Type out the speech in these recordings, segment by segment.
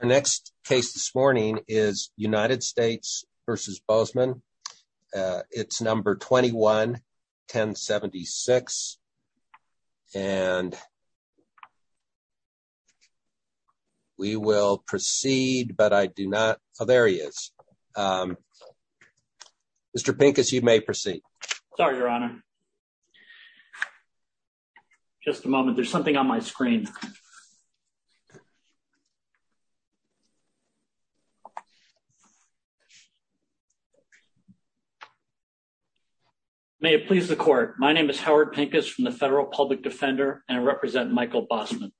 The next case this morning is United States v. Bosman. It's number 21-1076. And we will proceed, but I do not. Oh, there he is. Mr. Pincus, you may proceed. Sorry, Your Honor. Just a moment. There's something on my screen. May it please the court. My name is Howard Pincus from the Federal Public Defender and I represent Michael Bosman.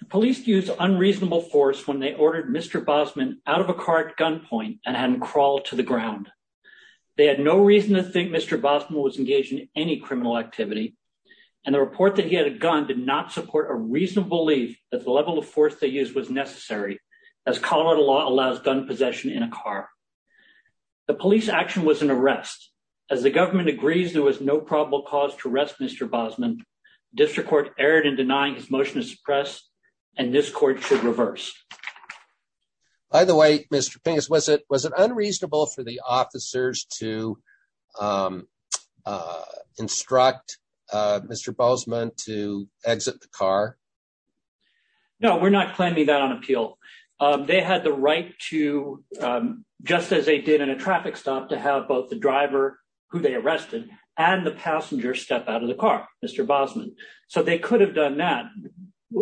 The police used unreasonable force when they ordered Mr. Bosman out of a car at gunpoint and had him crawl to the ground. They had no reason to think Mr. Bosman was engaged in any criminal activity. And the report that he had a gun did not support a reasonable belief that the level of force they used was necessary, as Colorado law allows gun possession in a car. The police action was an arrest. As the government agrees there was no probable cause to arrest Mr. Bosman, district court erred in denying his motion to suppress, and this court should reverse. By the way, Mr. Pincus, was it unreasonable for the officers to instruct Mr. Bosman to exit the car? No, we're not claiming that on appeal. They had the right to, just as they did in a traffic stop, to have both the driver who they arrested and the passenger step out of the car, Mr. Bosman. So they could have done that.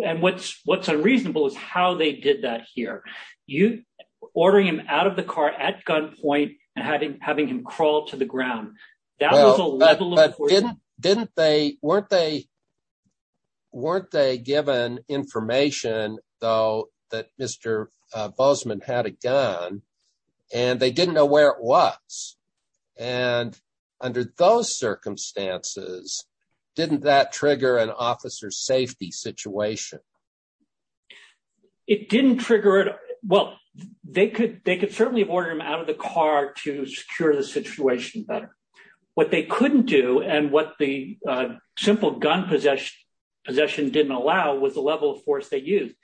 And what's unreasonable is how they did that here. You ordering him out of the car at gunpoint and having him crawl to the ground. Didn't they weren't they weren't they given information, though, that Mr. Bosman had a gun, and they didn't know where it was. And under those circumstances, didn't that trigger an officer safety situation. It didn't trigger it. Well, they could they could certainly have ordered him out of the car to secure the situation better. What they couldn't do and what the simple gun possession didn't allow was the level of force they used.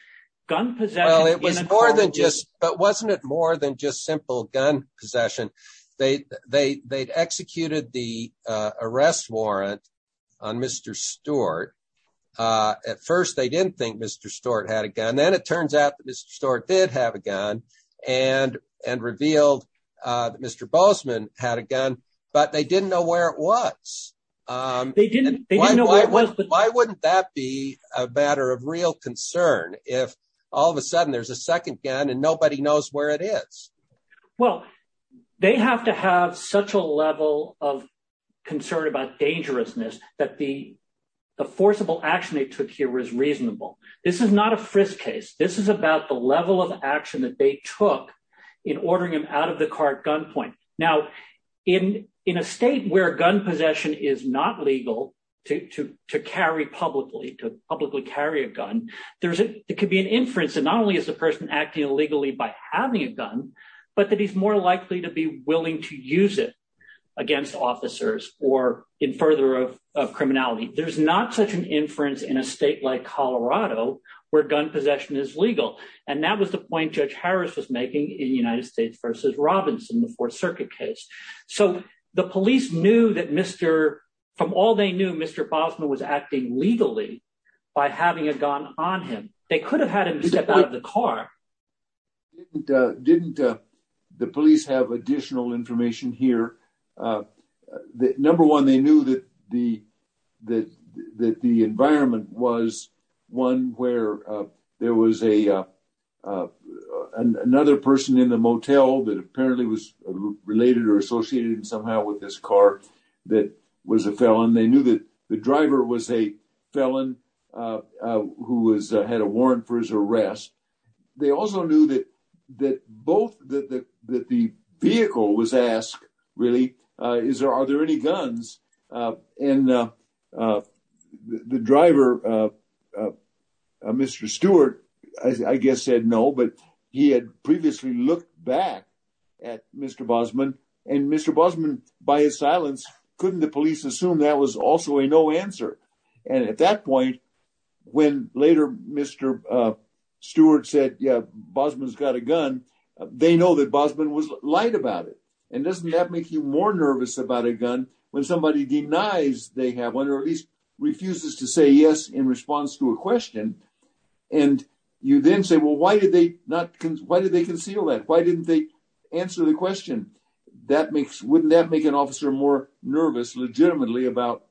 Well, it was more than just but wasn't it more than just simple gun possession? They they they'd executed the arrest warrant on Mr. Stewart. At first, they didn't think Mr. Stewart had a gun. Then it turns out that Mr. Stewart did have a gun and and revealed that Mr. Bosman had a gun, but they didn't know where it was. They didn't know why. Why wouldn't that be a matter of real concern if all of a sudden there's a second gun and nobody knows where it is? Well, they have to have such a level of concern about dangerousness that the the forcible action they took here was reasonable. This is not a frisk case. This is about the level of action that they took in ordering him out of the car at gunpoint. Now, in in a state where gun possession is not legal to to to carry publicly to publicly carry a gun, there's it could be an inference. And not only is the person acting illegally by having a gun, but that he's more likely to be willing to use it against officers or in further of criminality. There's not such an inference in a state like Colorado where gun possession is legal. And that was the point Judge Harris was making in the United States versus Robinson, the Fourth Circuit case. So the police knew that Mr. From all they knew, Mr. Bosman was acting legally by having a gun on him. They could have had him step out of the car. Didn't the police have additional information here? Number one, they knew that the that the environment was one where there was a another person in the motel that apparently was related or associated somehow with this car that was a felon. They knew that the driver was a felon who was had a warrant for his arrest. They also knew that that both that the vehicle was asked, really, is there are there any guns in the driver? Mr. Stewart, I guess, said no, but he had previously looked back at Mr. Bosman and Mr. Bosman by his silence. Couldn't the police assume that was also a no answer. And at that point, when later, Mr. Stewart said, yeah, Bosman's got a gun. They know that Bosman was light about it. And doesn't that make you more nervous about a gun when somebody denies they have one or at least refuses to say yes in response to a question? And you then say, well, why did they not? Why did they conceal that? Why didn't they answer the question? That makes wouldn't that make an officer more nervous legitimately about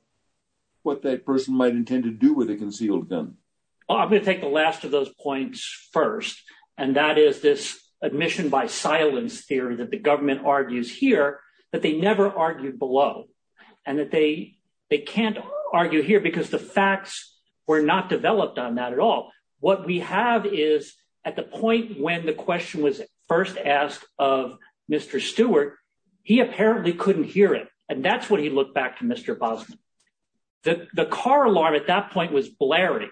what that person might intend to do with a concealed gun? I'm going to take the last of those points first, and that is this admission by silence theory that the government argues here that they never argued below and that they they can't argue here because the facts were not developed on that at all. What we have is at the point when the question was first asked of Mr. Stewart, he apparently couldn't hear it. And that's what he looked back to Mr. Bosman. The car alarm at that point was blaring.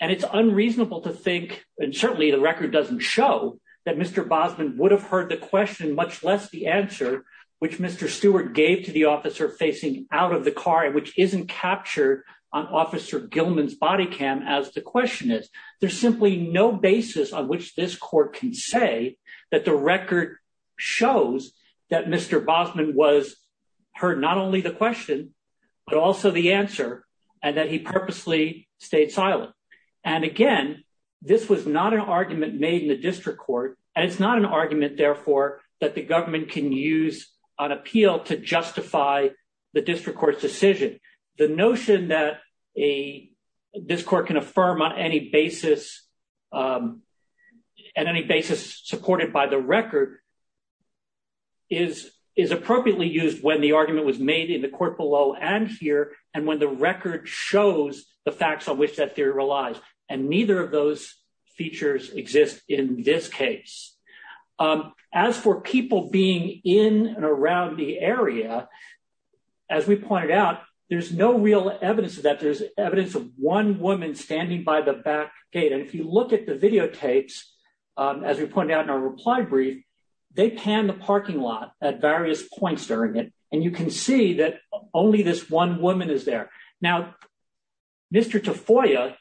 And it's unreasonable to think. And certainly the record doesn't show that Mr. Bosman would have heard the question, much less the answer, which Mr. Stewart gave to the officer facing out of the car, which isn't captured on Officer Gilman's body cam as the question is. There's simply no basis on which this court can say that the record shows that Mr. Bosman was heard not only the question, but also the answer and that he purposely stayed silent. And again, this was not an argument made in the district court, and it's not an argument, therefore, that the government can use on appeal to justify the district court's decision. The notion that a this court can affirm on any basis and any basis supported by the record. Is is appropriately used when the argument was made in the court below and here and when the record shows the facts on which that theory relies, and neither of those features exist in this case. As for people being in and around the area. As we pointed out, there's no real evidence that there's evidence of one woman standing by the back gate and if you look at the videotapes. As we pointed out in our reply brief, they can the parking lot at various points during it, and you can see that only this one woman is there now. Mr to foyer,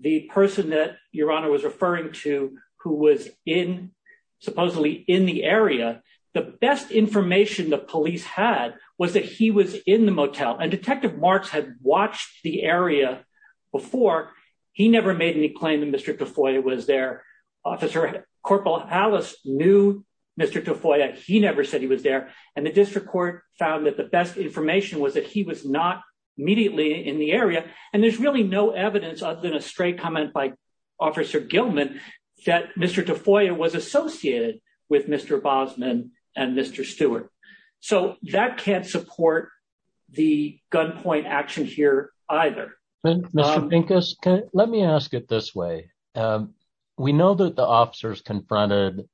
the person that your honor was referring to, who was in supposedly in the area, the best information the police had was that he was in the motel and detective marks had watched the area. Before he never made any claim to Mr to foyer was their officer corporal Alice knew Mr to foyer he never said he was there, and the district court found that the best information was that he was not immediately in the area, and there's really no evidence comment by officer Gilman that Mr to foyer was associated with Mr Bosman, and Mr Stewart. So, that can't support the gunpoint action here, either. Let me ask it this way. We know that the officers confronted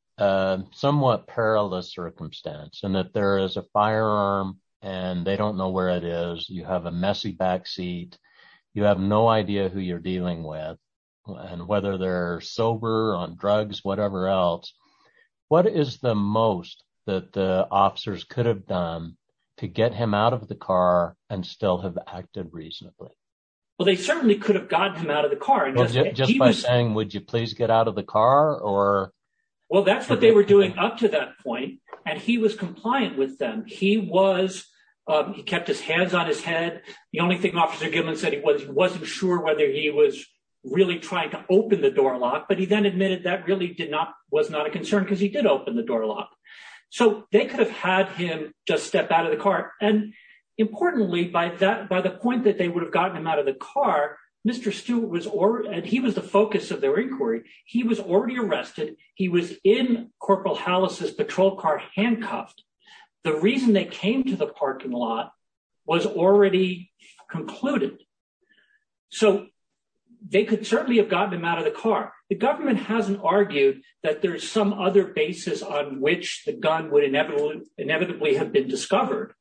somewhat perilous circumstance and that there is a firearm, and they don't know where it is you have a messy backseat. You have no idea who you're dealing with, and whether they're sober on drugs, whatever else. What is the most that the officers could have done to get him out of the car, and still have acted reasonably. Well, they certainly could have gotten him out of the car and just by saying would you please get out of the car, or. Well, that's what they were doing up to that point, and he was compliant with them, he was. He kept his hands on his head. The only thing officer given said he was wasn't sure whether he was really trying to open the door lock but he then admitted that really did not was not a concern because he did open the door lock. So, they could have had him just step out of the car, and importantly by that by the point that they would have gotten him out of the car, Mr Stewart was or, and he was the focus of their inquiry, he was already arrested. He was in Corporal Hollis's patrol car handcuffed. The reason they came to the parking lot was already concluded. So, they could certainly have gotten him out of the car, the government hasn't argued that there's some other basis on which the gun would inevitably inevitably have been discovered.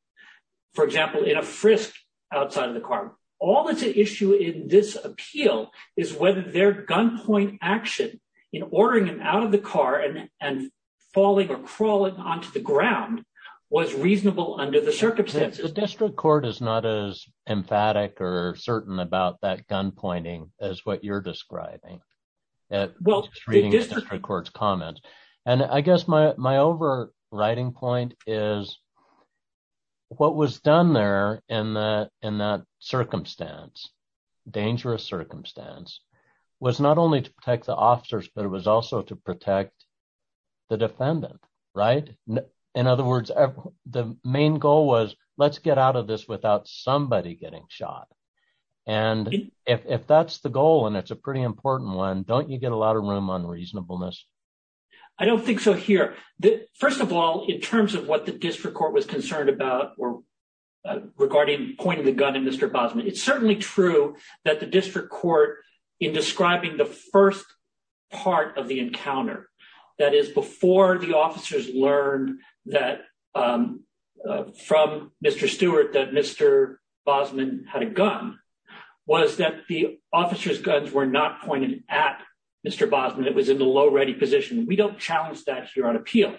For example, in a frisk outside of the car. All that's an issue in this appeal is whether their gunpoint action in ordering him out of the car and and falling or crawling onto the ground was reasonable under the circumstances district court is not as emphatic or certain about that gun pointing as what you're describing. Well, this records comment. And I guess my my overriding point is what was done there in the, in that circumstance, dangerous circumstance was not only to protect the officers but it was also to protect the defendant. Right. In other words, the main goal was, let's get out of this without somebody getting shot. And if that's the goal and it's a pretty important one, don't you get a lot of room on reasonableness. I don't think so here that, first of all, in terms of what the district court was concerned about or regarding pointing the gun and Mr Bosman it's certainly true that the district court in describing the first part of the encounter. That is before the officers learned that from Mr Stewart that Mr. Bosman had a gun was that the officers guns were not pointed at Mr Bosman it was in the low ready position we don't challenge that here on appeal.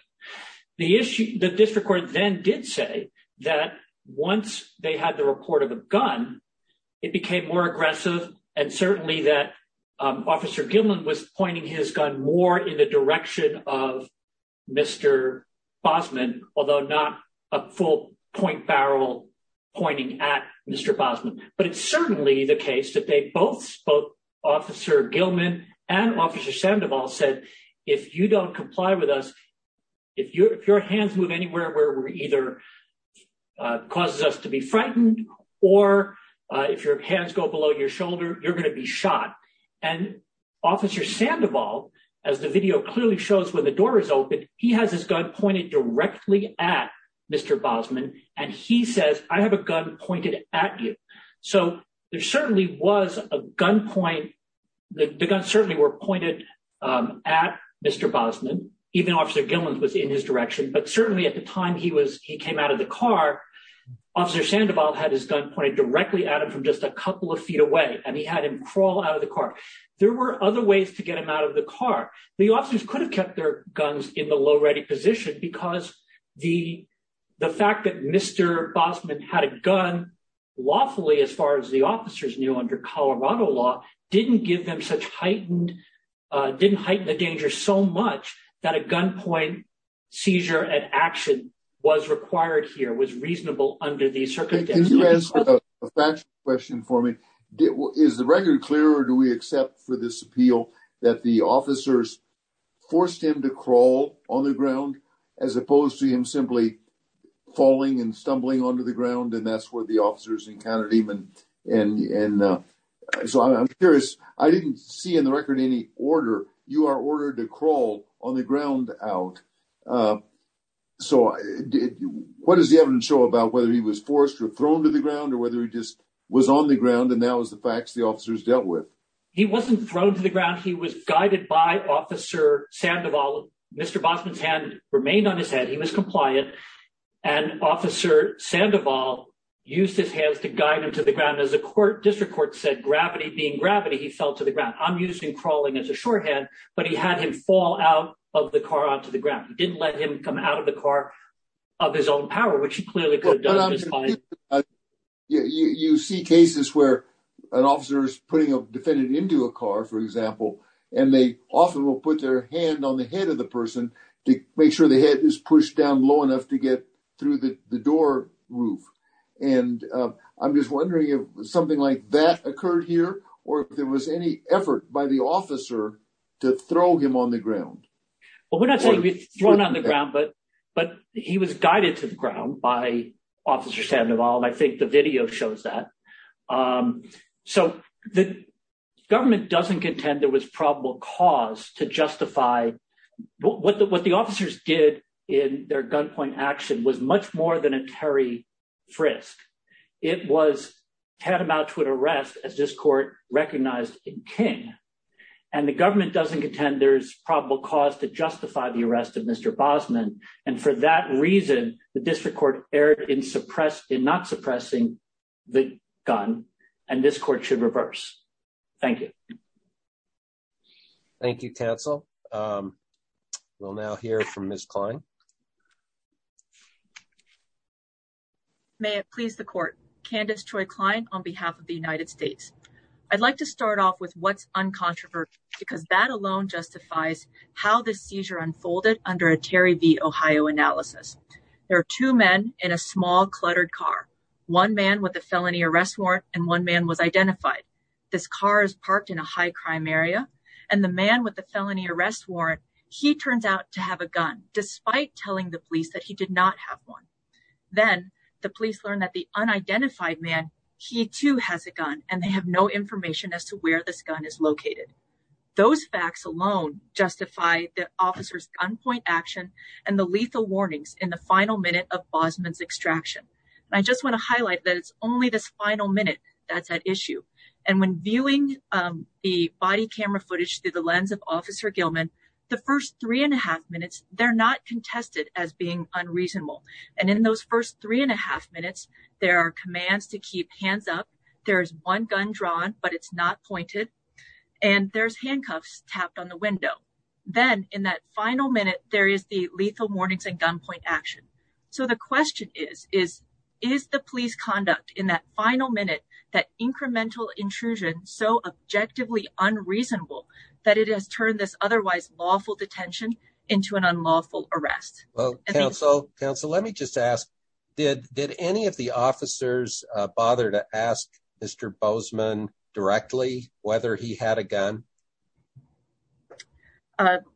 The issue that district court then did say that once they had the report of a gun. It became more aggressive, and certainly that officer Gilman was pointing his gun more in the direction of Mr. Bosman, although not a full point barrel pointing at Mr Bosman, but it's certainly the case that they both spoke officer Gilman and officer Sandoval said, if you don't comply with us. If you're if your hands move anywhere where we're either causes us to be frightened, or if your hands go below your shoulder, you're going to be shot and officer Sandoval, as the video clearly shows when the door is open, he has his gun pointed directly at Mr. Bosman, and he says, I have a gun pointed at you. So, there certainly was a gun point the gun certainly were pointed at Mr Bosman, even officer Gilman was in his direction but certainly at the time he was, he came out of the car. Officer Sandoval had his gun pointed directly at him from just a couple of feet away, and he had him crawl out of the car. There were other ways to get him out of the car, the officers could have kept their guns in the low ready position because the, the fact that Mr. Bosman had a gun lawfully as far as the officers knew under Colorado law, didn't give them such heightened didn't heighten the danger so much that a gunpoint seizure and action was required here was reasonable under the circumstances. If you ask a question for me, is the record clear or do we accept for this appeal that the officers forced him to crawl on the ground, as opposed to him simply falling and stumbling onto the ground and that's where the officers encountered even, and so I'm curious, I didn't see in the record any order, you are ordered to crawl on the ground out. So, what does the evidence show about whether he was forced or thrown to the ground or whether he just was on the ground and that was the facts the officers dealt with. He wasn't thrown to the ground he was guided by Officer Sandoval, Mr Bosman's hand remained on his head he was compliant and officer Sandoval use his hands to guide him to the ground as a court district court said gravity being gravity he fell to the ground I'm using crawling as a shorthand, but he had him fall out of the car onto the ground didn't let him come out of the car of his own power which he clearly could. You see cases where an officer is putting a defendant into a car for example, and they often will put their hand on the head of the person to make sure the head is pushed down low enough to get through the door roof, and I'm just wondering if something like that occurred here, or if there was any effort by the officer to throw him on the ground. Well we're not saying he was thrown on the ground but, but he was guided to the ground by Officer Sandoval and I think the video shows that. So, the government doesn't contend there was probable cause to justify what the what the officers did in their gunpoint action was much more than a Terry frisk. It was tantamount to an arrest as this court, recognized in King, and the government doesn't contend there's probable cause to justify the arrest of Mr. Bosman, and for that reason, the district court error in suppress in not suppressing the gun, and this court should reverse. Thank you. Thank you cancel. We'll now hear from this client. May it please the court, Candace Troy client on behalf of the United States. I'd like to start off with what's uncontroversial, because that alone justifies how the seizure unfolded under a Terry the Ohio analysis. There are two men in a small cluttered car. One man with a felony arrest warrant, and one man was identified. This car is parked in a high crime area, and the man with the felony arrest warrant. He turns out to have a gun, despite telling the police that he did not have one. Then, the police learned that the unidentified man. He too has a gun, and they have no information as to where this gun is located. Those facts alone, justify the officers gunpoint action, and the lethal warnings in the final minute of Bosman's extraction. I just want to highlight that it's only this final minute. That's an issue. And when viewing the body camera footage through the lens of officer Gilman, the first three and a half minutes, they're not contested as being unreasonable. And in those first three and a half minutes, there are commands to keep hands up. There's one gun drawn, but it's not pointed. And there's handcuffs tapped on the window. Then, in that final minute, there is the lethal warnings and gunpoint action. So, the question is, is the police conduct in that final minute, that incremental intrusion, so objectively unreasonable that it has turned this otherwise lawful detention into an unlawful arrest? Well, counsel, let me just ask, did any of the officers bother to ask Mr. Boseman directly whether he had a gun?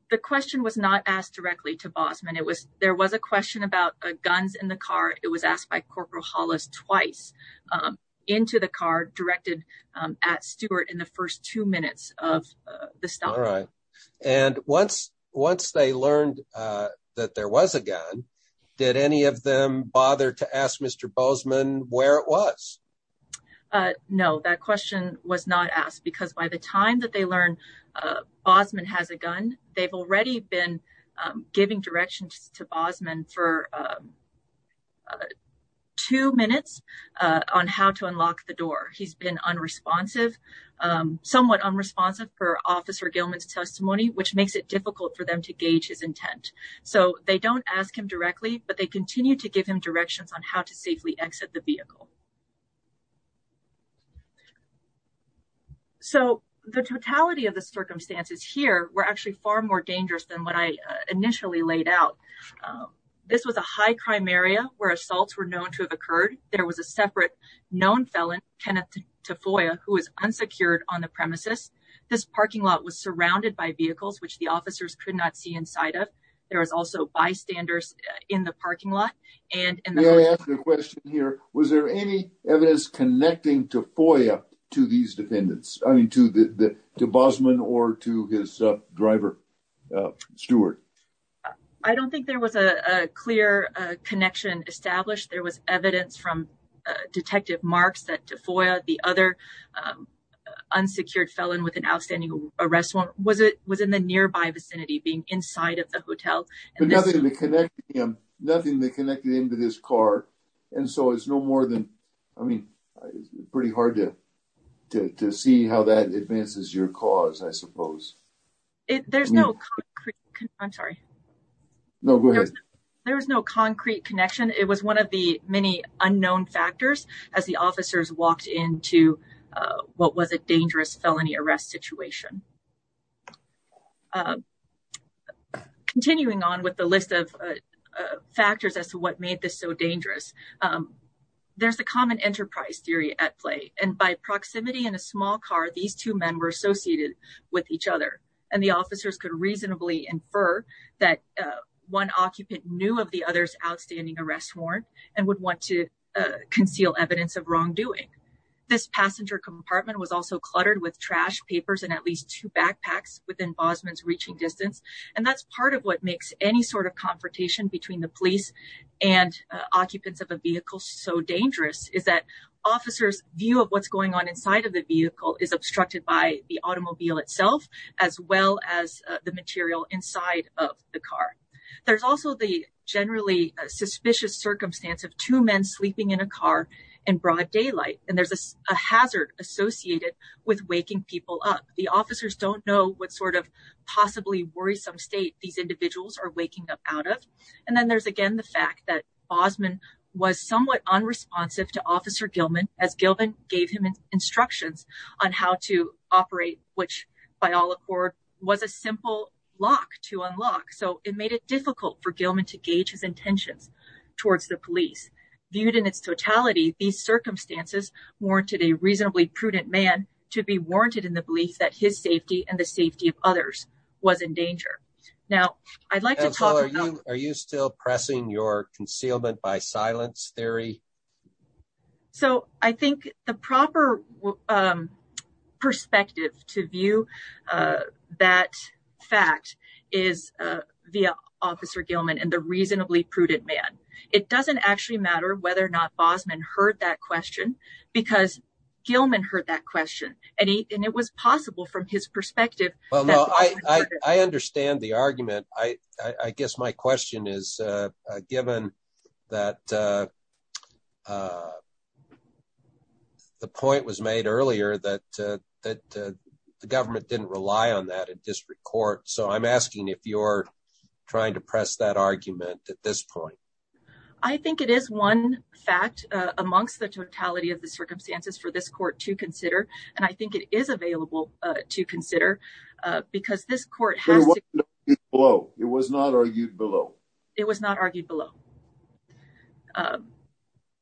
The question was not asked directly to Boseman. There was a question about guns in the car. It was asked by Corporal Hollis twice into the car, directed at Stewart in the first two minutes of the stop. All right. And once they learned that there was a gun, did any of them bother to ask Mr. Boseman where it was? No, that question was not asked because by the time that they learned Boseman has a gun, they've already been giving directions to Boseman for two minutes on how to unlock the door. He's been unresponsive, somewhat unresponsive for Officer Gilman's testimony, which makes it difficult for them to gauge his intent. So, they don't ask him directly, but they continue to give him directions on how to safely exit the vehicle. So, the totality of the circumstances here were actually far more dangerous than what I initially laid out. This was a high crime area where assaults were known to have occurred. There was a separate known felon, Kenneth Tafoya, who was unsecured on the premises. This parking lot was surrounded by vehicles, which the officers could not see inside of. There was also bystanders in the parking lot. May I ask a question here? Was there any evidence connecting Tafoya to these defendants? I mean, to Boseman or to his driver, Stewart? I don't think there was a clear connection established. There was evidence from Detective Marks that Tafoya, the other unsecured felon with an outstanding arrest warrant, was in the nearby vicinity, being inside of the hotel. But nothing that connected him to this car, and so it's no more than, I mean, pretty hard to see how that advances your cause, I suppose. There's no concrete connection. I'm sorry. No, go ahead. There was no concrete connection. It was one of the many unknown factors as the officers walked into what was a dangerous felony arrest situation. Continuing on with the list of factors as to what made this so dangerous, there's the common enterprise theory at play. And by proximity in a small car, these two men were associated with each other, and the officers could reasonably infer that one occupant knew of the other's outstanding arrest warrant and would want to conceal evidence of wrongdoing. This passenger compartment was also cluttered with trash, papers, and at least two backpacks within Boseman's reaching distance. And that's part of what makes any sort of confrontation between the police and occupants of a vehicle so dangerous, is that officers' view of what's going on inside of the vehicle is obstructed by the automobile itself, as well as the material inside of the car. There's also the generally suspicious circumstance of two men sleeping in a car in broad daylight, and there's a hazard associated with waking people up. The officers don't know what sort of possibly worrisome state these individuals are waking up out of. And then there's again the fact that Boseman was somewhat unresponsive to Officer Gilman, as Gilman gave him instructions on how to operate, which by all accord was a simple lock to unlock. So it made it difficult for Gilman to gauge his intentions towards the police. Viewed in its totality, these circumstances warranted a reasonably prudent man to be warranted in the belief that his safety and the safety of others was in danger. Are you still pressing your concealment by silence theory? So I think the proper perspective to view that fact is via Officer Gilman and the reasonably prudent man. It doesn't actually matter whether or not Boseman heard that question, because Gilman heard that question, and it was possible from his perspective. I understand the argument. I guess my question is, given that the point was made earlier that the government didn't rely on that in district court. So I'm asking if you're trying to press that argument at this point. I think it is one fact amongst the totality of the circumstances for this court to consider. And I think it is available to consider because this court has. It was not argued below. It was not argued below.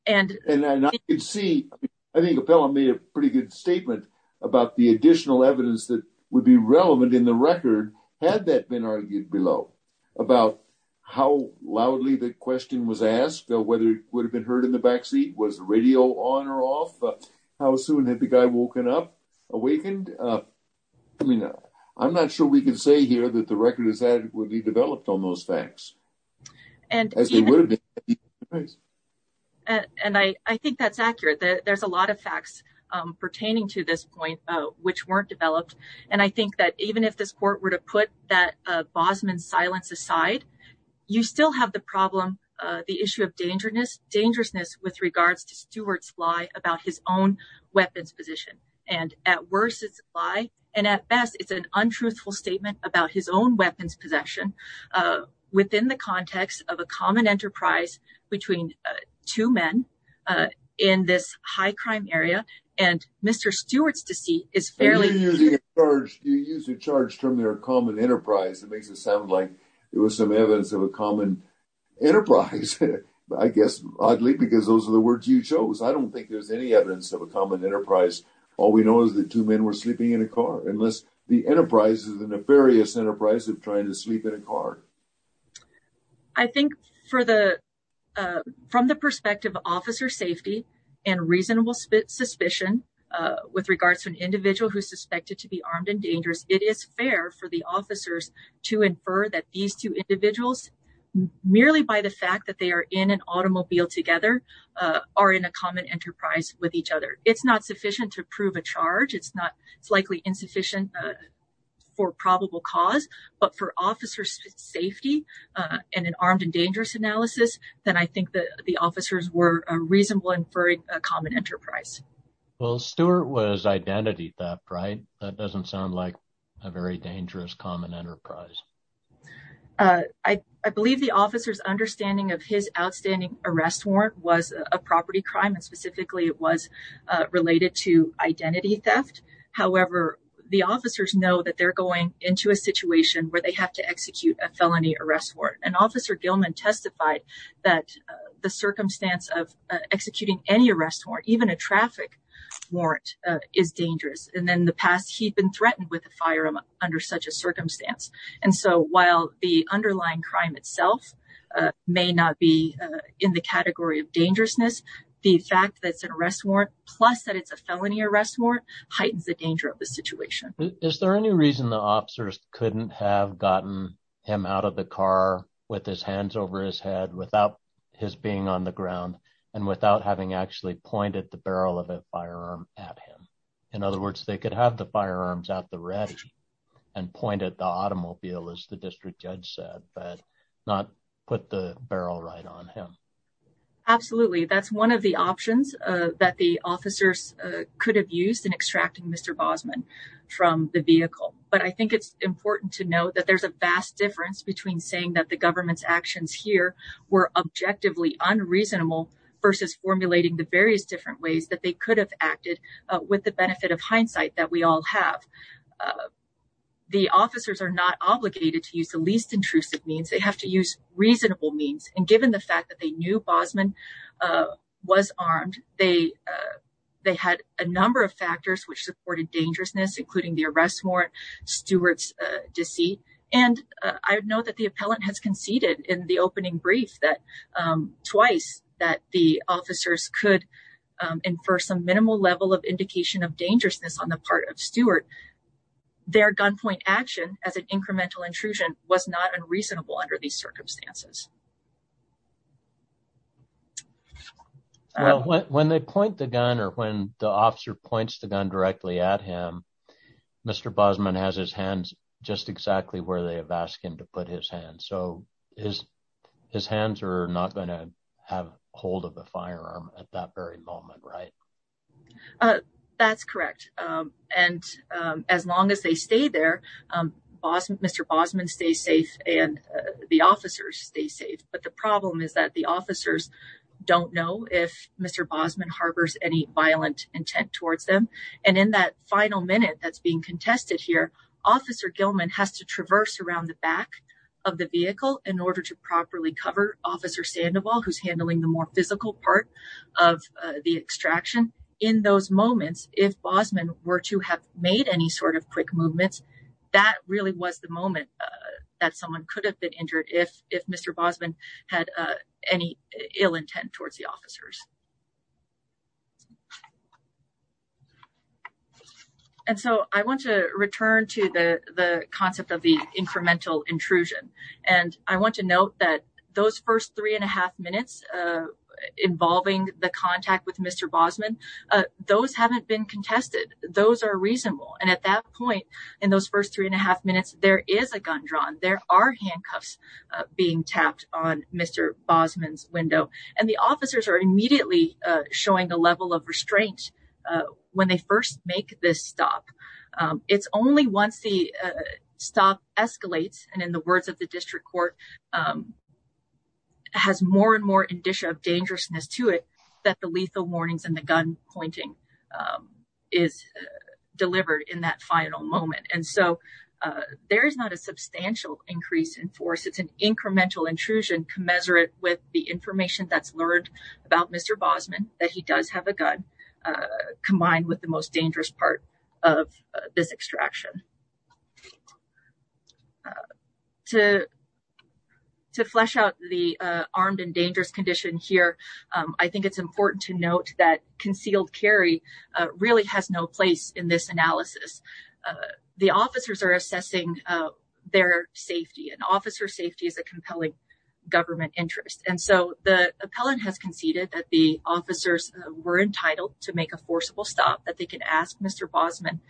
And I could see. I think Appella made a pretty good statement about the additional evidence that would be relevant in the record. Had that been argued below about how loudly the question was asked, whether it would have been heard in the backseat? Was the radio on or off? How soon had the guy woken up, awakened? I mean, I'm not sure we can say here that the record is adequately developed on those facts. And I think that's accurate. There's a lot of facts pertaining to this point which weren't developed. And I think that even if this court were to put that Bosman silence aside, you still have the problem, the issue of dangerousness with regards to Stewart's lie about his own weapons position. And at worst, it's a lie. And at best, it's an untruthful statement about his own weapons possession within the context of a common enterprise between two men in this high crime area. And Mr. Stewart's deceit is fairly. You use the charge from their common enterprise. It makes it sound like there was some evidence of a common enterprise. I guess, oddly, because those are the words you chose. I don't think there's any evidence of a common enterprise. All we know is that two men were sleeping in a car. Unless the enterprise is a nefarious enterprise of trying to sleep in a car. I think from the perspective of officer safety and reasonable suspicion with regards to an individual who's suspected to be armed and dangerous, it is fair for the officers to infer that these two individuals, merely by the fact that they are in an automobile together, are in a common enterprise with each other. It's not sufficient to prove a charge. It's likely insufficient for probable cause. But for officer safety and an armed and dangerous analysis, then I think that the officers were reasonable inferring a common enterprise. Well, Stewart was identity theft, right? That doesn't sound like a very dangerous common enterprise. I believe the officer's understanding of his outstanding arrest warrant was a property crime, and specifically it was related to identity theft. However, the officers know that they're going into a situation where they have to execute a felony arrest warrant. And Officer Gilman testified that the circumstance of executing any arrest warrant, even a traffic warrant, is dangerous. And in the past, he'd been threatened with a firearm under such a circumstance. And so while the underlying crime itself may not be in the category of dangerousness, the fact that it's an arrest warrant, plus that it's a felony arrest warrant, heightens the danger of the situation. Is there any reason the officers couldn't have gotten him out of the car with his hands over his head, without his being on the ground, and without having actually pointed the barrel of a firearm at him? In other words, they could have the firearms at the ready and point at the automobile, as the district judge said, but not put the barrel right on him. Absolutely. That's one of the options that the officers could have used in extracting Mr. Bosman from the vehicle. But I think it's important to note that there's a vast difference between saying that the government's actions here were objectively unreasonable versus formulating the various different ways that they could have acted with the benefit of hindsight that we all have. The officers are not obligated to use the least intrusive means. They have to use reasonable means. And given the fact that they knew Bosman was armed, they had a number of factors which supported dangerousness, including the arrest warrant, Stewart's deceit. And I know that the appellant has conceded in the opening brief twice that the officers could infer some minimal level of indication of dangerousness on the part of Stewart. Their gunpoint action as an incremental intrusion was not unreasonable under these circumstances. When they point the gun or when the officer points the gun directly at him, Mr. Bosman has his hands just exactly where they have asked him to put his hands. So his his hands are not going to have hold of the firearm at that very moment. Right. That's correct. And as long as they stay there, Bosman, Mr. Bosman stays safe and the officers stay safe. But the problem is that the officers don't know if Mr. Bosman harbors any violent intent towards them. And in that final minute that's being contested here, Officer Gilman has to traverse around the back of the vehicle in order to properly cover Officer Sandoval, who's handling the more physical part of the extraction. In those moments, if Bosman were to have made any sort of quick movements, that really was the moment that someone could have been injured if if Mr. Bosman had any ill intent towards the officers. And so I want to return to the concept of the incremental intrusion, and I want to note that those first three and a half minutes involving the contact with Mr. Bosman, those haven't been contested. Those are reasonable. And at that point in those first three and a half minutes, there is a gun drawn. There are handcuffs being tapped on Mr. And the officers are immediately showing a level of restraint when they first make this stop. It's only once the stop escalates and in the words of the district court, has more and more indicia of dangerousness to it that the lethal warnings and the gun pointing is delivered in that final moment. And so there is not a substantial increase in force. It's an incremental intrusion commensurate with the information that's learned about Mr. Bosman, that he does have a gun combined with the most dangerous part of this extraction. To flesh out the armed and dangerous condition here, I think it's important to note that concealed carry really has no place in this analysis. The officers are assessing their safety and officer safety is a compelling government interest. And so the appellant has conceded that the officers were entitled to make a forcible stop that they could ask Mr. Bosman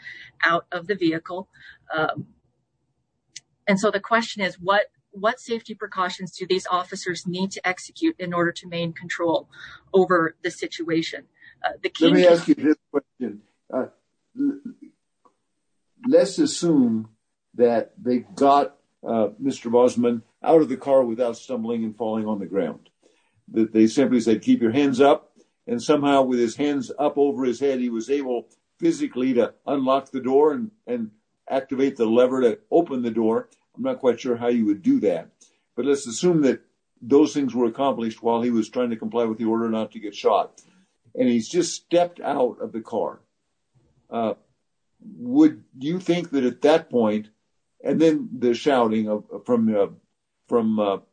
out of the vehicle. And so the question is, what what safety precautions do these officers need to execute in order to main control over the situation? Let me ask you this question. Let's assume that they got Mr. Bosman out of the car without stumbling and falling on the ground, that they simply said, keep your hands up. And somehow with his hands up over his head, he was able physically to unlock the door and activate the lever to open the door. I'm not quite sure how you would do that. But let's assume that those things were accomplished while he was trying to comply with the order not to get shot. And he's just stepped out of the car. Would you think that at that point and then the shouting from from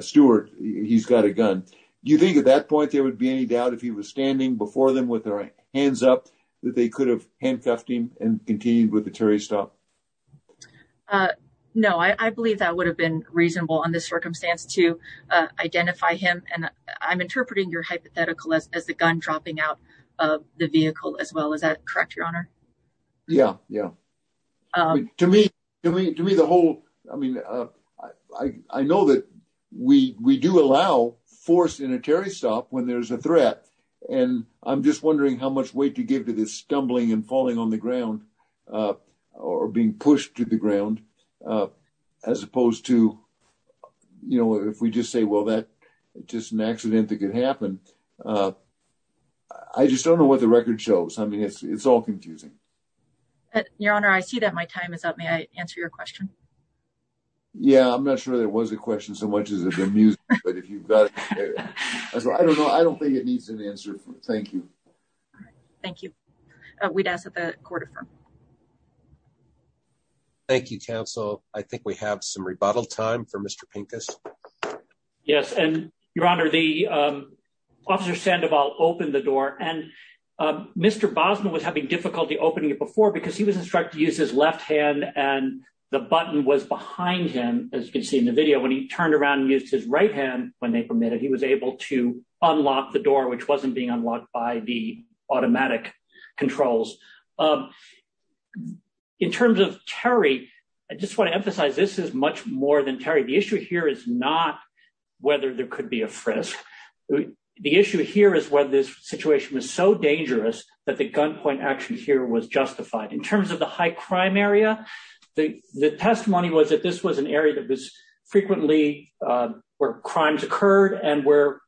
Stewart, he's got a gun. Do you think at that point there would be any doubt if he was standing before them with their hands up that they could have handcuffed him and continue with the Terry stop? No, I believe that would have been reasonable on this circumstance to identify him. And I'm interpreting your hypothetical as the gun dropping out of the vehicle as well. Is that correct? Your Honor? Yeah. Yeah. To me, to me, to me, the whole I mean, I know that we we do allow force in a Terry stop when there's a threat. And I'm just wondering how much weight to give to this stumbling and falling on the ground or being pushed to the ground as opposed to, you know, if we just say, well, that just an accident that could happen. I just don't know what the record shows. I mean, it's all confusing. Your Honor, I see that my time is up. May I answer your question? Yeah, I'm not sure there was a question so much as if the music, but if you've got. I don't know. I don't think it needs an answer. Thank you. Thank you. We'd ask that the court of. Thank you, counsel. I think we have some rebuttal time for Mr Pincus. Yes, and your Honor, the officer Sandoval opened the door and Mr Bosman was having difficulty opening it before because he was instructed to use his left hand and the button was behind him. As you can see in the video when he turned around and used his right hand when they permitted he was able to unlock the door which wasn't being unlocked by the automatic controls. In terms of Terry, I just want to emphasize this is much more than Terry. The issue here is not whether there could be a frisk. The issue here is whether this situation was so dangerous that the gunpoint action here was justified in terms of the high crime area. The testimony was that this was an area that was frequently where crimes occurred and where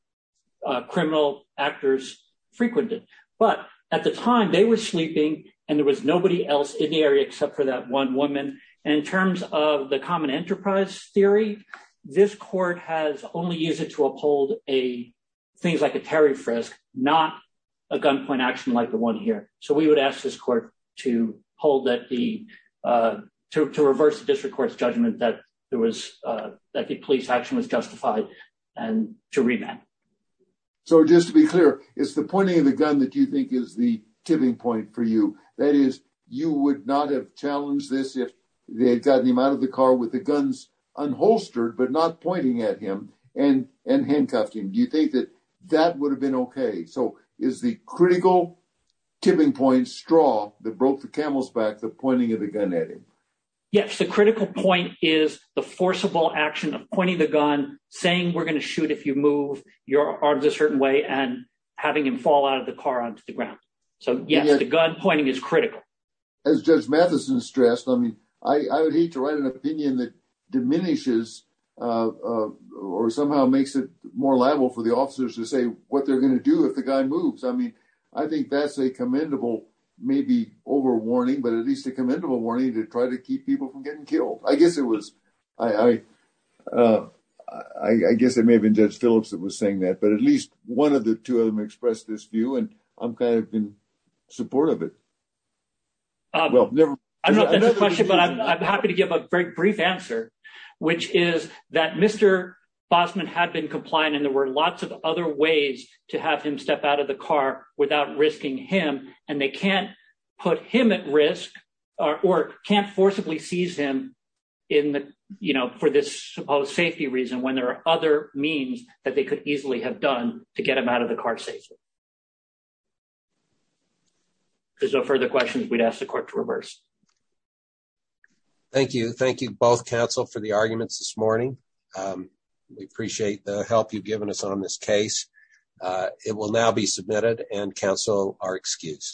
criminal actors frequented, but at the time they were sleeping, and there was nobody else in the area except for that one woman. And in terms of the common enterprise theory. This court has only used it to uphold a things like a Terry frisk, not a gunpoint action like the one here. So we would ask this court to hold that the to reverse the district court's judgment that there was that the police action was justified, and to read that. So just to be clear, it's the pointing of the gun that you think is the tipping point for you, that is, you would not have challenged this if they had gotten him out of the car with the guns unholstered but not pointing at him and and handcuffed him. Do you think that that would have been okay so is the critical tipping point straw that broke the camel's back the pointing of the gun at him. Yes, the critical point is the forcible action of pointing the gun, saying we're going to shoot if you move your arms a certain way and having him fall out of the car onto the ground. So, yes, the gun pointing is critical. As Judge Madison stressed I mean, I would hate to write an opinion that diminishes, or somehow makes it more liable for the officers to say what they're going to do if the guy moves I mean, I think that's a commendable, maybe over warning but at least support of it. I don't know if that's a question but I'm happy to give a very brief answer, which is that Mr. Bosman had been compliant and there were lots of other ways to have him step out of the car without risking him, and they can't put him at risk, or can't forcibly seize him in the, you know, for this supposed safety reason when there are other means that they could easily have done to get them out of the car safely. There's no further questions we'd ask the court to reverse. Thank you. Thank you both counsel for the arguments this morning. We appreciate the help you've given us on this case. It will now be submitted and cancel our excuse.